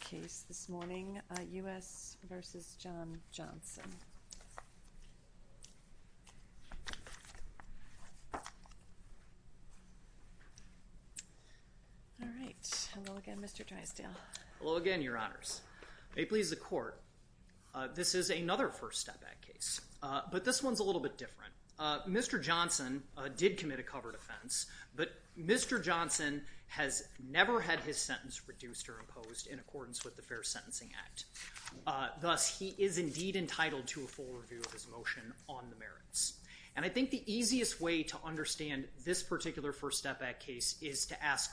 case this morning, U.S. v. John Johnson. All right. Hello again, Mr. Drysdale. Hello again, Your Honors. May it please the Court, this is another first step back case, but this one's a little bit different. Mr. Johnson did commit a covered offense, but Mr. Johnson has never had his sentence reduced or imposed in accordance with the Fair Sentencing Act. Thus, he is indeed entitled to a full review of his motion on the merits. And I think the easiest way to understand this particular first step back case is to ask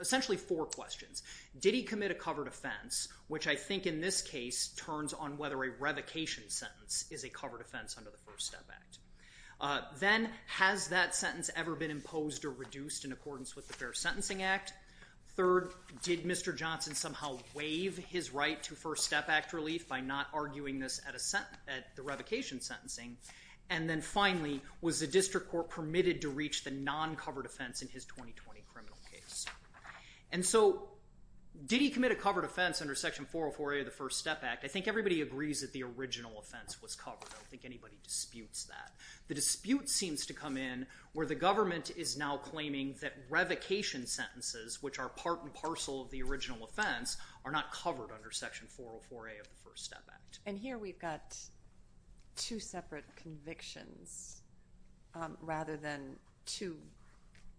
essentially four questions. Did he commit a covered offense, which I think in this case turns on whether a revocation sentence is a covered offense under the First Step Act. Then, has that sentence ever been imposed or reduced in accordance with the Fair Sentencing Act? Third, did Mr. Johnson somehow waive his right to First Step Act relief by not arguing this at the revocation sentencing? And then finally, was the District Court permitted to reach the non-covered offense in his 2020 criminal case? And so, did he commit a covered offense under Section 404A of the First Step Act? I think everybody agrees that the original offense was covered. I don't claiming that revocation sentences, which are part and parcel of the original offense, are not covered under Section 404A of the First Step Act. And here we've got two separate convictions rather than two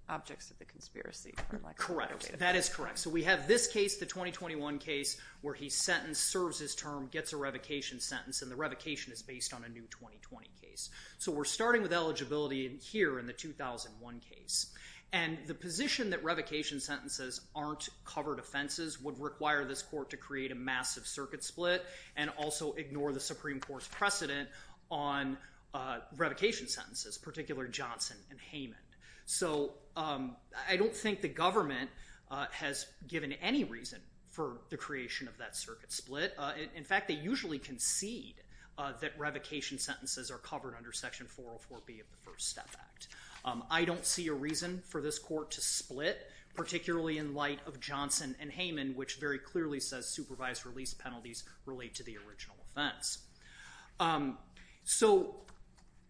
objects of the conspiracy. Correct. That is correct. So we have this case, the 2021 case, where he's sentenced, serves his term, gets a revocation sentence, and the revocation is based on a new 2020 case. So we're starting with eligibility here in the 2001 case. And the position that revocation sentences aren't covered offenses would require this court to create a massive circuit split and also ignore the Supreme Court's precedent on revocation sentences, particularly Johnson and Heyman. So I don't think the government has given any reason for the creation of that circuit split. In fact, they usually concede that revocation sentences are covered under Section 404B of the First Step Act. I don't see a reason for this court to split, particularly in light of Johnson and Heyman, which very clearly says supervised release penalties relate to the original offense. So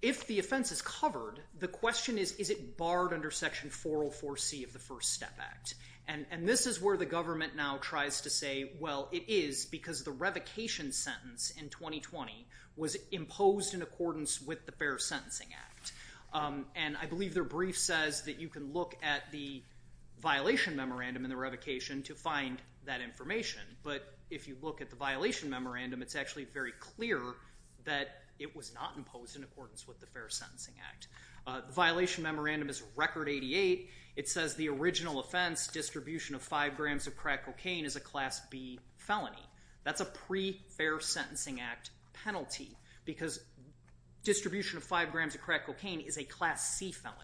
if the offense is covered, the question is, is it barred under Section 404C of the First Step Act? And this is where the government now tries to say, well, it is because the revocation sentence in 2020 was imposed in accordance with the Fair Sentencing Act. And I believe their brief says that you can look at the violation memorandum in the revocation to find that information. But if you look at the violation memorandum, it's actually very clear that it was not imposed in accordance with the Fair Sentencing Act. The violation memorandum is Record 88. It says the original offense, distribution of five grams of crack cocaine, is a Class B felony. That's a pre-Fair Sentencing Act penalty because distribution of five grams of crack cocaine is a Class C felony.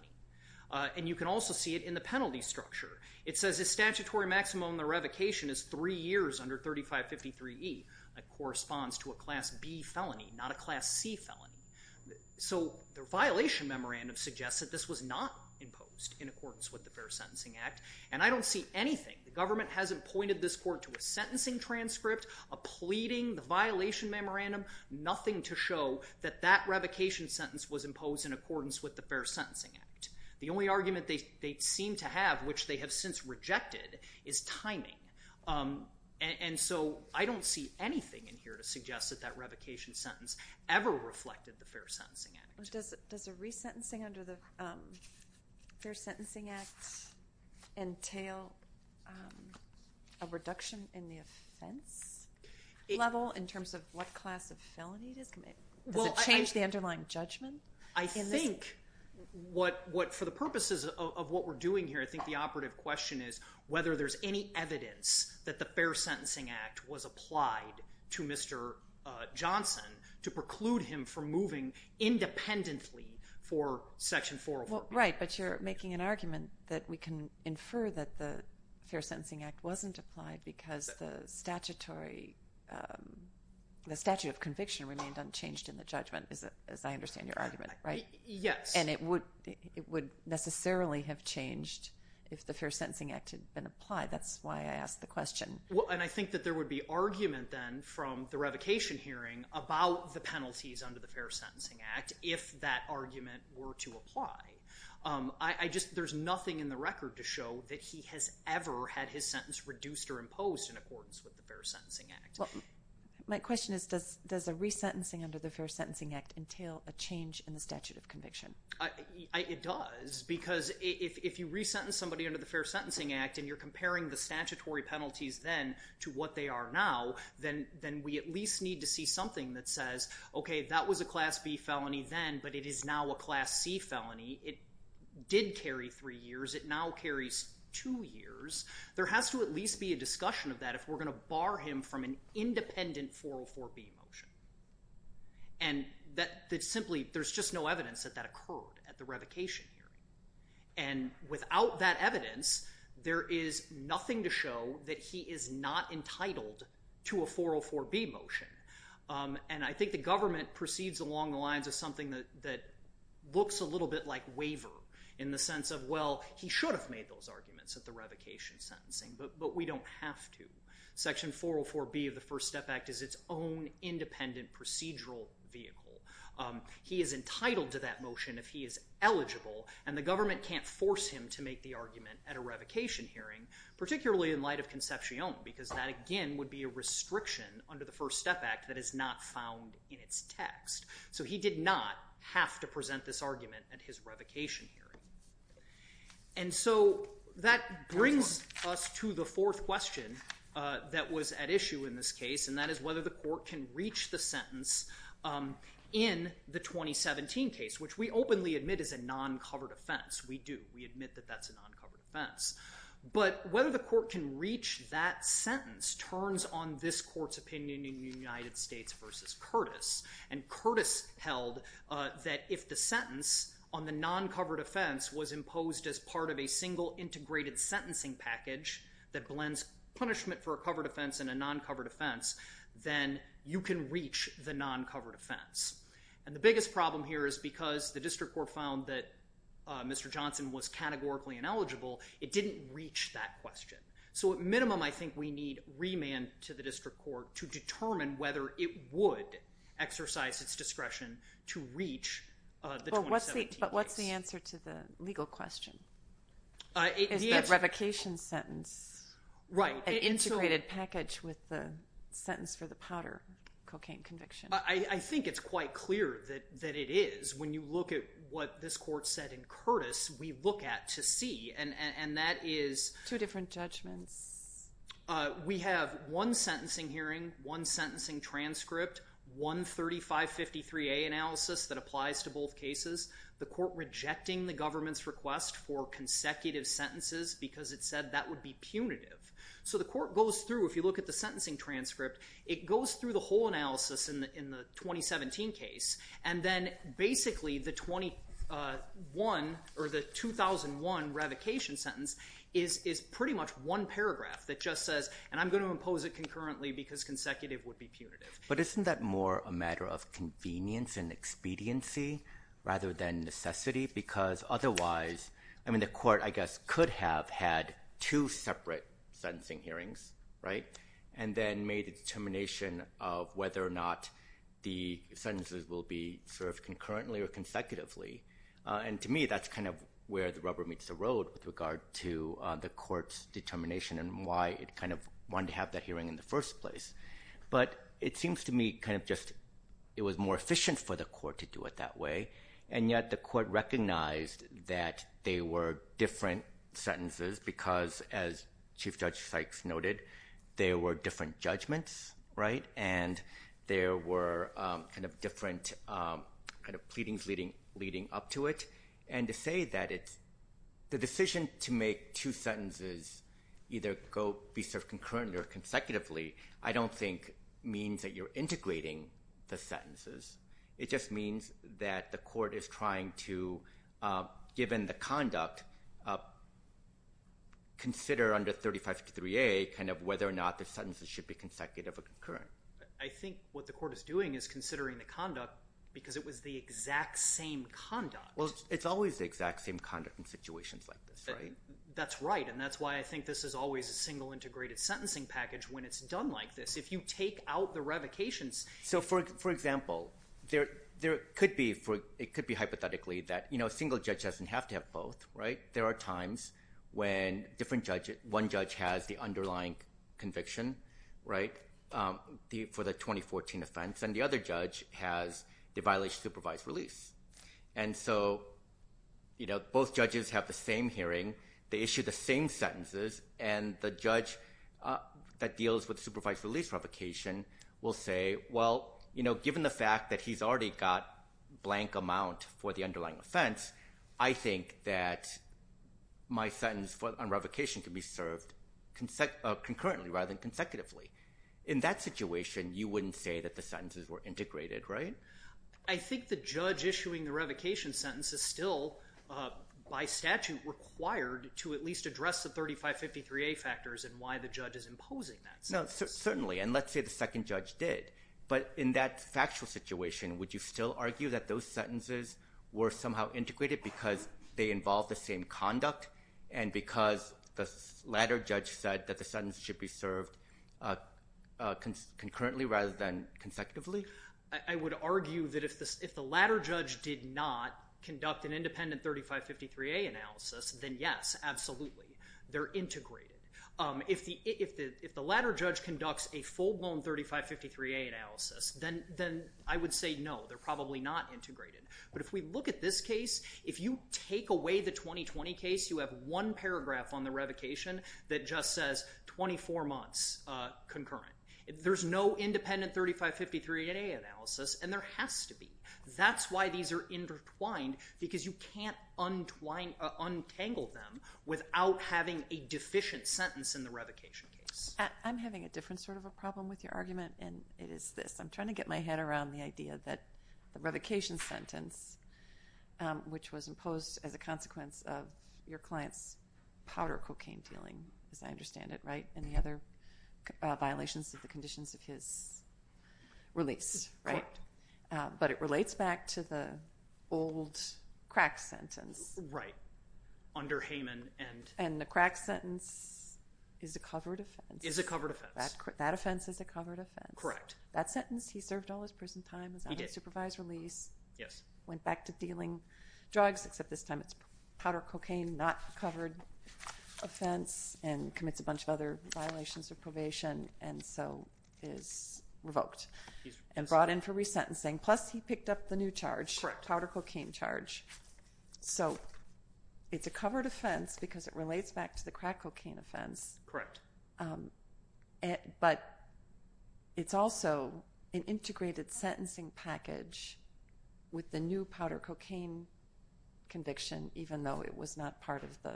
And you can also see it in the penalty structure. It says the statutory maximum of the revocation is three years under 3553E. That corresponds to a Class B felony, not a Class C felony. So the violation memorandum suggests that this was not imposed in accordance with the Fair Sentencing Act. And I don't see anything. The government hasn't pointed this court to a sentencing transcript, a pleading, the violation memorandum, nothing to show that that revocation sentence was imposed in accordance with the Fair Sentencing Act. The only argument they seem to have, which they have since rejected, is timing. And so I don't see anything in here to suggest that that revocation sentence ever reflected the Fair Sentencing Act. Does a resentencing under the Fair Sentencing Act entail a reduction in the offense level in terms of what class of felony it is? Does it change the underlying judgment? I think what, for the purposes of what we're doing here, I think the operative question is whether there's any evidence that the Fair Sentencing Act was applied to Mr. Johnson to preclude him from moving independently for Section 404B. Right, but you're making an argument that we can infer that the Fair Sentencing Act wasn't applied because the statute of conviction remained unchanged in the judgment, as I understand your argument, right? Yes. And it would necessarily have changed if the Fair Sentencing Act had been applied. That's why I asked the question. And I think that there would be argument then from the revocation hearing about the penalties under the Fair Sentencing Act if that argument were to apply. There's nothing in the record to show that he has ever had his sentence reduced or imposed in accordance with the Fair Sentencing Act. My question is, does a resentencing under the Fair Sentencing Act entail a change in the statute of conviction? It does, because if you resentence somebody under the Fair Sentencing Act and you're comparing the statutory penalties then to what they are now, then we at least need to see something that says, okay, that was a Class B felony then, but it is now a Class C felony. It did carry three years. It now carries two years. There has to at least be a discussion of that if we're going to bar him from an independent 404B motion. And simply, there's just no evidence that that occurred at the revocation hearing. And without that evidence, there is nothing to show that he is not entitled to a 404B motion. And I think the government proceeds along the lines of something that looks a little bit like waiver in the sense of, well, he should have made those arguments at the revocation sentencing, but we don't have to. Section 404B of the First Step Act is its own independent procedural vehicle. He is entitled to that motion if he is eligible, and the government can't force him to make the argument at a revocation hearing, particularly in light of Concepcion, because that, again, would be a restriction under the First Step Act that is not found in its text. So he did not have to present this argument at his revocation hearing. And so that brings us to the fourth question that was at issue in this case, and that is whether the court can reach the sentence in the 2017 case, which we openly admit is a non-covered offense. We do. We admit that that's a non-covered offense. But whether the court can reach that sentence turns on this court's opinion in the United States versus Curtis. And Curtis held that if the sentence on the non-covered offense was imposed as part of a single integrated sentencing package that blends punishment for a covered offense and a non-covered offense, then you can reach the non-covered offense. And the biggest problem here is because the district court found that Mr. Johnson was categorically ineligible, it didn't reach that question. So at minimum, I think we need remand to the district court to determine whether it would exercise its discretion to reach the 2017 case. But what's the answer to the legal question? Is the revocation sentence an integrated package with the sentence for the powder cocaine conviction? I think it's quite clear that it is. When you look at what this court said in Curtis, we look at to see. And that is... Two different judgments. We have one sentencing hearing, one sentencing transcript, one 3553A analysis that applies to both cases. The court rejecting the government's request for consecutive sentences because it said that would be punitive. So the court goes through, if you look at the sentencing transcript, it goes through the whole analysis in the 2017 case, and then basically the 2001 revocation sentence is pretty much one paragraph that just says, and I'm going to impose it concurrently because consecutive would be punitive. But isn't that more a matter of convenience and expediency rather than necessity? Because otherwise, I mean, the court, I guess, could have had two separate sentencing hearings, right? And then made a determination of whether or not the sentences will be served concurrently or consecutively. And to me, that's kind of where the rubber meets the road with regard to the court's determination and why it kind of wanted to have that hearing in the first place. But it seems to me kind of just it was more efficient for the court to do it that way, and yet the court recognized that they were different sentences because, as Chief Judge Sykes noted, there were different judgments, right? And there were kind of different kind of pleadings leading up to it. And to say that it's the decision to make two sentences either go be served concurrently or consecutively, I don't think means that you're integrating the sentences. It just means that the court is trying to, given the conduct, consider under 3553A kind of whether or not the sentences should be consecutive or concurrent. I think what the court is doing is considering the conduct because it was the exact same conduct. Well, it's always the exact same conduct in situations like this, right? That's right, and that's why I think this is always a single integrated sentencing package when it's done like this. If you take out the revocations... So, for example, it could be hypothetically that, you know, there are times when one judge has the underlying conviction, right, for the 2014 offense, and the other judge has the violation of supervised release. And so, you know, both judges have the same hearing, they issue the same sentences, and the judge that deals with supervised release revocation will say, well, you know, given the fact that he's already got blank amount for the underlying offense, I think that my sentence on revocation can be served concurrently rather than consecutively. In that situation, you wouldn't say that the sentences were integrated, right? I think the judge issuing the revocation sentence is still, by statute, required to at least address the 3553A factors and why the judge is imposing that sentence. No, certainly, and let's say the second judge did. But in that factual situation, would you still argue that those sentences were somehow integrated because they involve the same conduct and because the latter judge said that the sentence should be served concurrently rather than consecutively? I would argue that if the latter judge did not conduct an independent 3553A analysis, then yes, absolutely. They're integrated. If the latter judge conducts a full-blown 3553A analysis, then I would say no, they're probably not integrated. But if we look at this case, if you take away the 2020 case, you have one paragraph on the revocation that just says 24 months concurrent. There's no independent 3553A analysis, and there has to be. That's why these are intertwined because you can't untangle them without having a deficient sentence in the revocation case. I'm having a different sort of a problem with your argument, and it is this. I'm trying to get my head around the idea that the revocation sentence, which was imposed as a consequence of your client's powder cocaine dealing, as I understand it, right, and the other violations of the conditions of his release, right? But it relates back to the old crack sentence. Right, under Hayman. And the crack sentence is a covered offense. Is a covered offense. That offense is a covered offense. Correct. That sentence, he served all his prison time. He did. Supervised release. Yes. Went back to dealing drugs, except this time it's powder cocaine, not a covered offense, and commits a bunch of other violations of probation and so is revoked and brought in for resentencing. Plus he picked up the new charge, powder cocaine charge. So it's a covered offense because it relates back to the crack cocaine offense. Correct. But it's also an integrated sentencing package with the new powder cocaine conviction, even though it was not part of the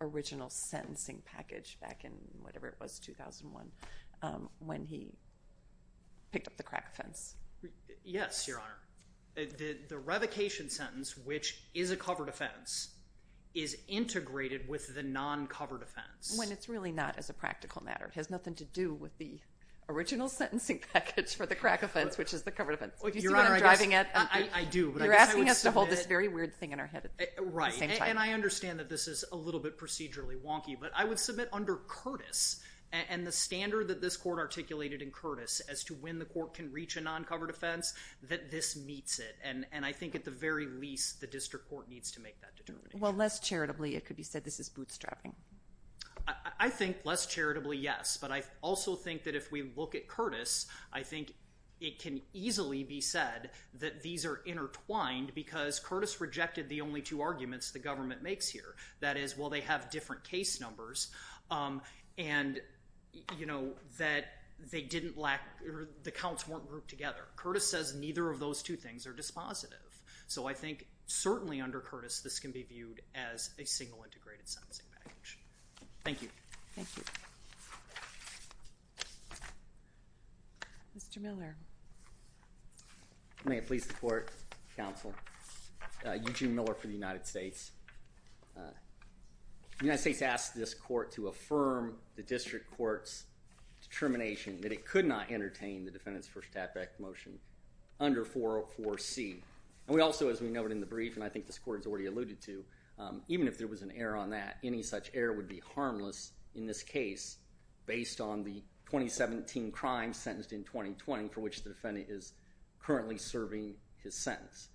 original sentencing package back in whatever it was, 2001, when he picked up the crack offense. Yes, Your Honor. The revocation sentence, which is a covered offense, is integrated with the non-covered offense. When it's really not as a practical matter. It has nothing to do with the original sentencing package for the crack offense, which is the covered offense. You see what I'm driving at? I do. You're asking us to hold this very weird thing in our head at the same time. Right, and I understand that this is a little bit procedurally wonky, but I would submit under Curtis and the standard that this court articulated in Curtis as to when the court can reach a non-covered offense, that this meets it, and I think at the very least the district court needs to make that determination. Well, less charitably it could be said this is bootstrapping. I think less charitably, yes. But I also think that if we look at Curtis, I think it can easily be said that these are intertwined because Curtis rejected the only two arguments the government makes here. That is, well, they have different case numbers, and that the counts weren't grouped together. Curtis says neither of those two things are dispositive. So I think certainly under Curtis this can be viewed as a single integrated sentencing package. Thank you. Thank you. Mr. Miller. May it please the court, counsel. Eugene Miller for the United States. The United States asked this court to affirm the district court's determination that it could not entertain the defendant's first attack motion under 404C. And we also, as we noted in the brief, and I think this court has already alluded to, even if there was an error on that, any such error would be harmless in this case based on the 2017 crime sentenced in 2020 for which the defendant is currently serving his sentence.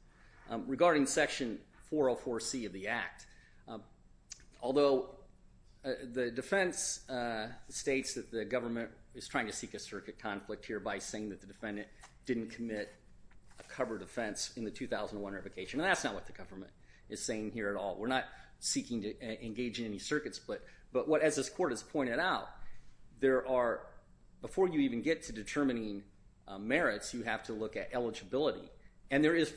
Regarding section 404C of the act, although the defense states that the government is trying to seek a circuit conflict here by saying that the defendant didn't commit a covered offense in the 2001 revocation, and that's not what the government is saying here at all. We're not seeking to engage in any circuit split. But what, as this court has pointed out, there are, before you even get to determining merits, you have to look at eligibility. And there is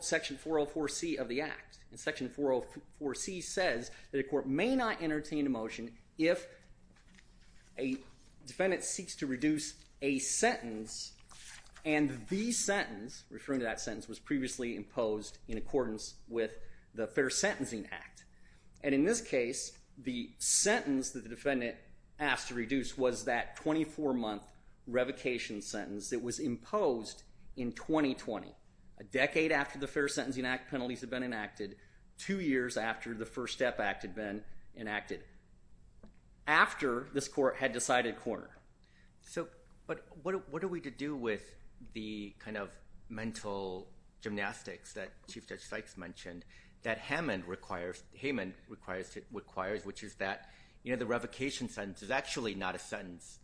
section 404C of the act. And section 404C says that a court may not entertain a motion if a defendant seeks to reduce a sentence and the sentence, referring to that sentence, was previously imposed in accordance with the Fair Sentencing Act. And in this case, the sentence that the defendant asked to reduce was that 24-month revocation sentence that was imposed in 2020, a decade after the Fair Sentencing Act penalties had been enacted, two years after the First Step Act had been enacted, after this court had decided corner. So, but what are we to do with the kind of mental gymnastics that Chief Judge Sykes mentioned, that Haman requires, which is that, you know, the revocation sentence is actually not a sentence.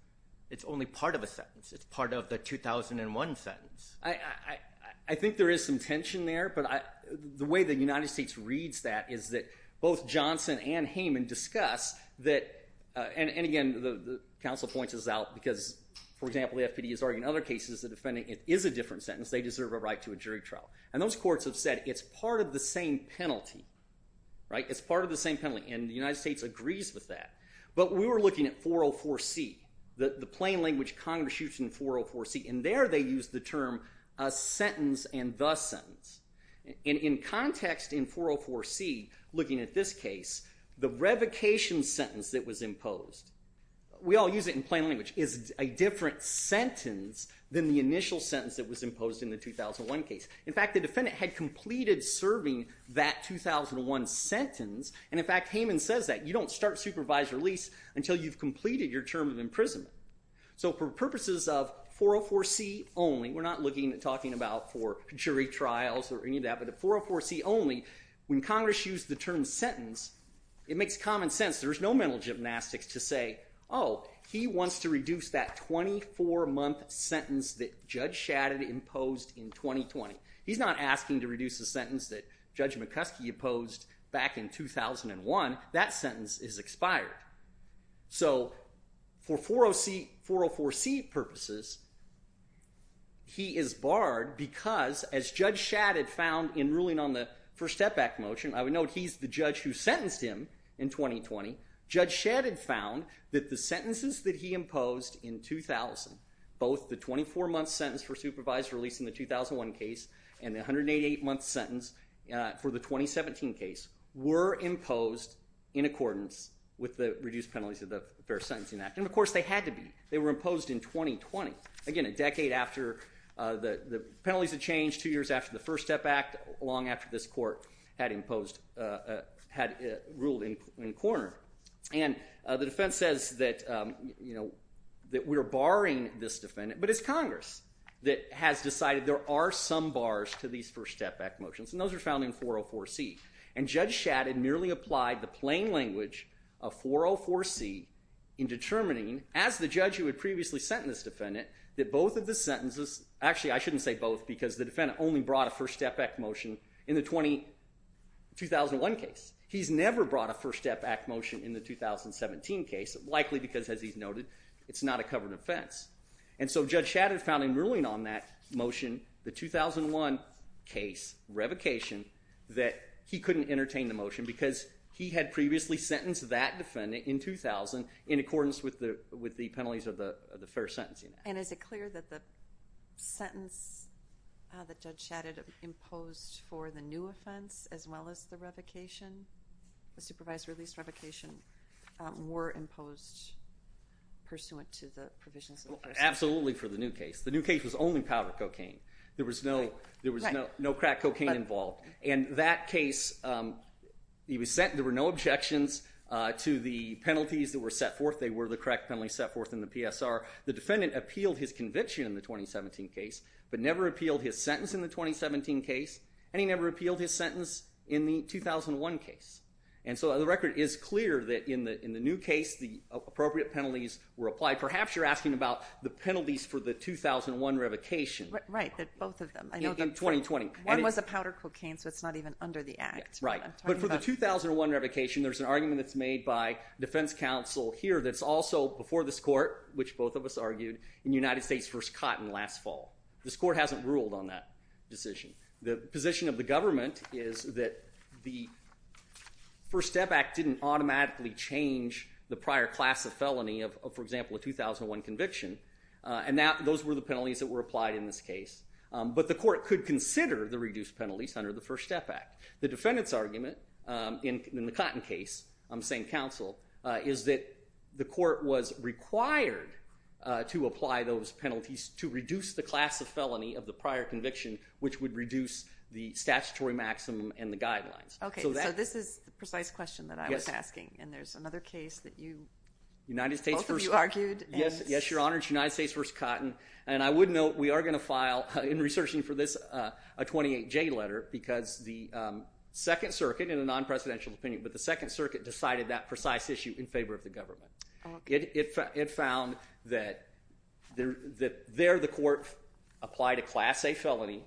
It's only part of a sentence. It's part of the 2001 sentence. I think there is some tension there, but the way the United States reads that is that both Johnson and Haman discuss that... And again, the counsel points this out because, for example, the FPD is arguing in other cases the defendant is a different sentence. They deserve a right to a jury trial. And those courts have said it's part of the same penalty, right? It's part of the same penalty, and the United States agrees with that. But we were looking at 404C, the plain language Congress used in 404C, and there they used the term sentence and the sentence. And in context in 404C, looking at this case, the revocation sentence that was imposed, we all use it in plain language, is a different sentence than the initial sentence that was imposed in the 2001 case. In fact, the defendant had completed serving that 2001 sentence, and, in fact, Haman says that. You don't start supervised release until you've completed your term of imprisonment. So for purposes of 404C only, we're not looking at talking about for jury trials or any of that, but in 404C only, when Congress used the term sentence, it makes common sense. There's no mental gymnastics to say, oh, he wants to reduce that 24-month sentence that Judge Shadid imposed in 2020. He's not asking to reduce the sentence that Judge McCuskey imposed back in 2001. That sentence is expired. So for 404C purposes, he is barred because, as Judge Shadid found in ruling on the First Step Back motion, I would note he's the judge who sentenced him in 2020. Judge Shadid found that the sentences that he imposed in 2000, both the 24-month sentence for supervised release in the 2001 case and the 188-month sentence for the 2017 case, were imposed in accordance with the reduced penalties of the Fair Sentencing Act. And, of course, they had to be. They were imposed in 2020, again, a decade after the penalties had changed, two years after the First Step Act, long after this court had ruled in corner. And the defense says that we're barring this defendant, but it's Congress that has decided there are some bars to these First Step Back motions, and those are found in 404C. And Judge Shadid merely applied the plain language of 404C in determining, as the judge who had previously sentenced this defendant, that both of the sentences... Actually, I shouldn't say both because the defendant only brought a First Step Back motion in the 2001 case. He's never brought a First Step Back motion in the 2017 case, likely because, as he's noted, it's not a covered offense. And so Judge Shadid found in ruling on that motion, the 2001 case revocation, that he couldn't entertain the motion because he had previously sentenced that defendant in 2000 in accordance with the penalties of the first sentencing act. And is it clear that the sentence that Judge Shadid imposed for the new offense as well as the revocation, the supervised release revocation, were imposed pursuant to the provisions of the First Step Act? Absolutely for the new case. The new case was only powder cocaine. There was no crack cocaine involved. And that case, there were no objections to the penalties that were set forth. They were the crack penalties set forth in the PSR. The defendant appealed his conviction in the 2017 case but never appealed his sentence in the 2017 case, and he never appealed his sentence in the 2001 case. And so the record is clear that in the new case, the appropriate penalties were applied. Perhaps you're asking about the penalties for the 2001 revocation. Right, both of them. In 2020. One was a powder cocaine, so it's not even under the Act. Right. But for the 2001 revocation, there's an argument that's made by defense counsel here that's also before this court, which both of us argued, in United States v. Cotton last fall. This court hasn't ruled on that decision. The position of the government is that the First Step Act didn't automatically change the prior class of felony of, for example, a 2001 conviction, and those were the penalties that were applied in this case. But the court could consider the reduced penalties under the First Step Act. The defendant's argument in the Cotton case, I'm saying counsel, is that the court was required to apply those penalties to reduce the class of felony of the prior conviction, which would reduce the statutory maximum and the guidelines. Okay, so this is the precise question that I was asking, and there's another case that you... Both of you argued. Yes, Your Honor, it's United States v. Cotton, and I would note we are going to file, in researching for this, a 28J letter because the Second Circuit, in a non-presidential opinion, but the Second Circuit decided that precise issue in favor of the government. It found that there the court applied a Class A felony,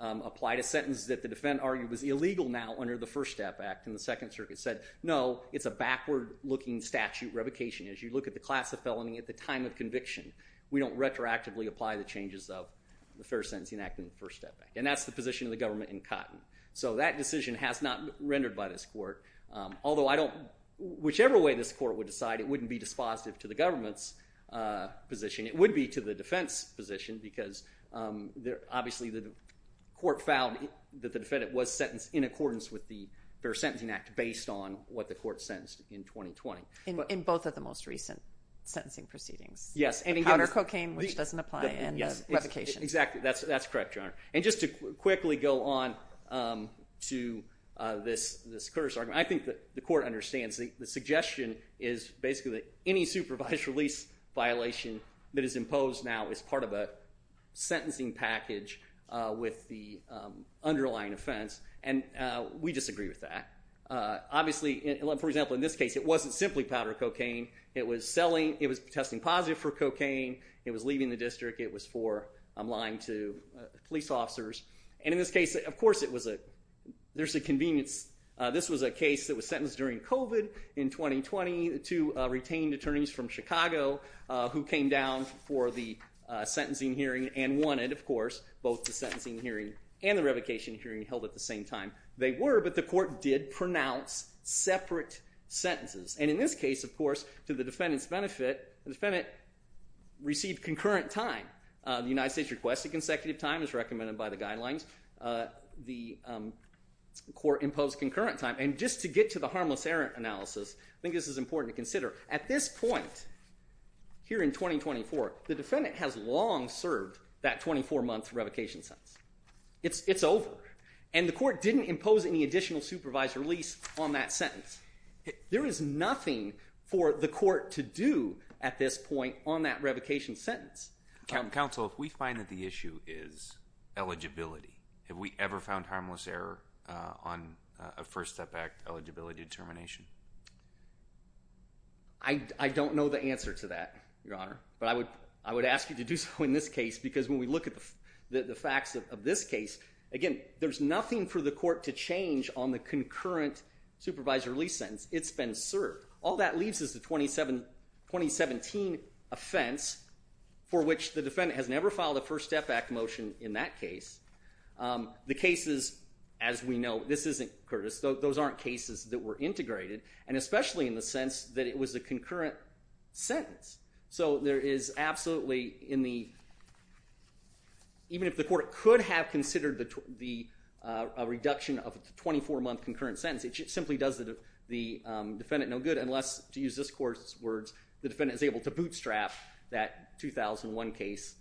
applied a sentence that the defendant argued was illegal now under the First Step Act, and the Second Circuit said, no, it's a backward-looking statute revocation. As you look at the class of felony at the time of conviction, we don't retroactively apply the changes of the Fair Sentencing Act and the First Step Act. And that's the position of the government in Cotton. So that decision has not rendered by this court, although I don't... Whichever way this court would decide, it wouldn't be dispositive to the government's position. It would be to the defense's position because obviously the court found that the defendant was sentenced in accordance with the Fair Sentencing Act based on what the court sentenced in 2020. In both of the most recent sentencing proceedings. Yes. Powder cocaine, which doesn't apply, and revocation. Exactly. That's correct, Your Honor. And just to quickly go on to this curse argument, I think the court understands the suggestion is basically that any supervised release violation that is imposed now is part of a sentencing package with the underlying offense, and we disagree with that. Obviously, for example, in this case, it wasn't simply powder cocaine. It was testing positive for cocaine. It was leaving the district. It was for lying to police officers. And in this case, of course, there's a convenience. This was a case that was sentenced during COVID in 2020 to retained attorneys from Chicago who came down for the sentencing hearing and wanted, of course, both the sentencing hearing and the revocation hearing held at the same time. They were, but the court did pronounce separate sentences. And in this case, of course, to the defendant's benefit, the defendant received concurrent time. The United States requests a consecutive time as recommended by the guidelines. The court imposed concurrent time. And just to get to the harmless error analysis, I think this is important to consider. At this point here in 2024, the defendant has long served that 24-month revocation sentence. It's over. And the court didn't impose any additional supervised release on that sentence. There is nothing for the court to do at this point on that revocation sentence. Counsel, if we find that the issue is eligibility, have we ever found harmless error on a First Step Act eligibility determination? I don't know the answer to that, Your Honor. But I would ask you to do so in this case because when we look at the facts of this case, again, there's nothing for the court to change on the concurrent supervised release sentence. It's been served. All that leaves is the 2017 offense for which the defendant has never filed a First Step Act motion in that case. The cases, as we know, this isn't, Curtis, those aren't cases that were integrated, and especially in the sense that it was a concurrent sentence. So there is absolutely in the... Even if the court could have considered the reduction of the 24-month concurrent sentence, it simply does the defendant no good unless, to use this court's words, the defendant is able to bootstrap that 2001 case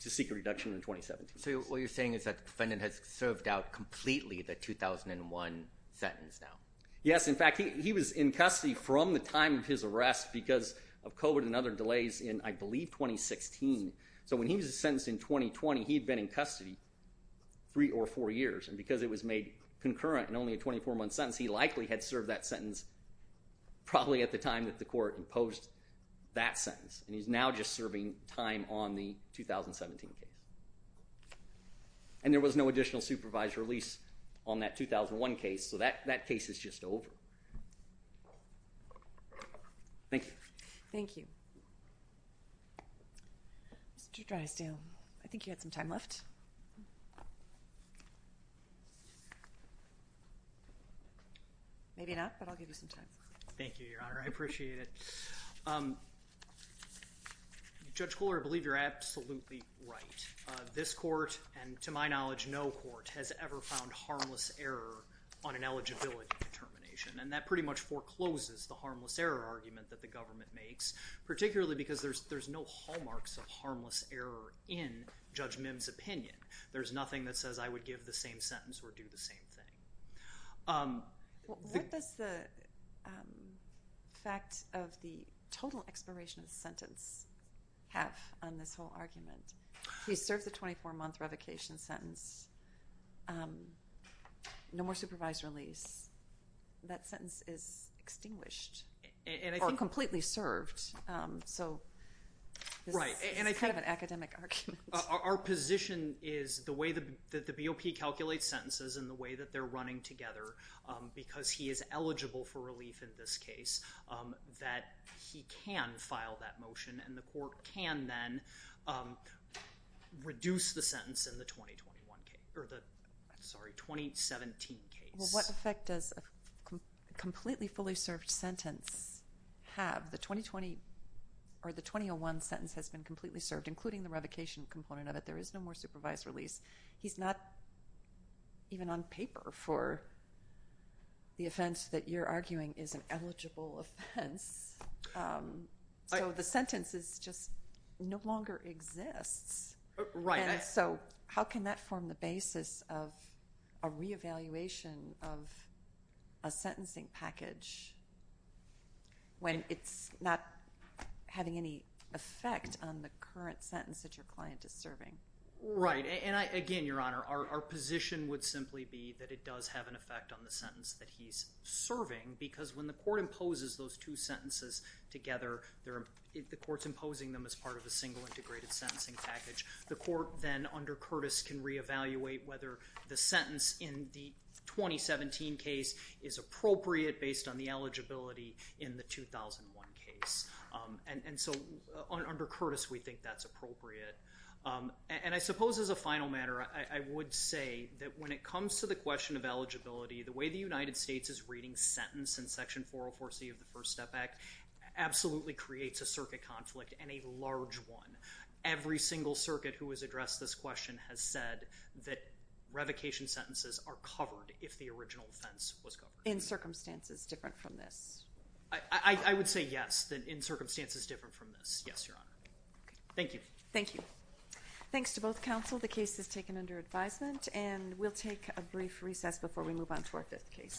to seek a reduction in 2017. So what you're saying is that the defendant has served out completely the 2001 sentence now. Yes, in fact, he was in custody from the time of his arrest because of COVID and other delays in, I believe, 2016. So when he was sentenced in 2020, he'd been in custody three or four years, and because it was made concurrent and only a 24-month sentence, he likely had served that sentence probably at the time that the court imposed that sentence, and he's now just serving time on the 2017 case. And there was no additional supervised release on that 2001 case, so that case is just over. Thank you. Thank you. Mr. Drysdale, I think you had some time left. Maybe not, but I'll give you some time. Thank you, Your Honor. I appreciate it. Judge Koehler, I believe you're absolutely right. This court, and to my knowledge no court, has ever found harmless error on an eligibility determination, and that pretty much forecloses the harmless error argument that the government makes, particularly because there's no hallmarks of harmless error in Judge Mim's opinion. There's nothing that says, I would give the same sentence or do the same thing. What does the fact of the total expiration of the sentence have on this whole argument? He served the 24-month revocation sentence. No more supervised release. That sentence is extinguished, or completely served. So this is kind of an academic argument. Our position is the way that the BOP calculates sentences and the way that they're running together, because he is eligible for relief in this case, that he can file that motion, and the court can then reduce the sentence in the 2017 case. Well, what effect does a completely fully served sentence have? The 2020 or the 2001 sentence has been completely served, including the revocation component of it. There is no more supervised release. He's not even on paper for the offense that you're arguing is an eligible offense. So the sentence just no longer exists. Right. So how can that form the basis of a re-evaluation of a sentencing package when it's not having any effect on the current sentence that your client is serving? Right. Again, Your Honor, our position would simply be that it does have an effect on the sentence that he's serving, because when the court imposes those two sentences together, the court's imposing them as part of a single integrated sentencing package. The court then, under Curtis, can re-evaluate whether the sentence in the 2017 case is appropriate based on the eligibility in the 2001 case. And so under Curtis, we think that's appropriate. And I suppose as a final matter, I would say that when it comes to the question of eligibility, the way the United States is reading sentence in Section 404C of the First Step Act absolutely creates a circuit conflict, and a large one. Every single circuit who has addressed this question has said that revocation sentences are covered if the original offense was covered. In circumstances different from this? I would say yes, that in circumstances different from this. Yes, Your Honor. Okay. Thank you. Thank you. Thanks to both counsel. The case is taken under advisement, and we'll take a brief recess before we move on to our 5th case.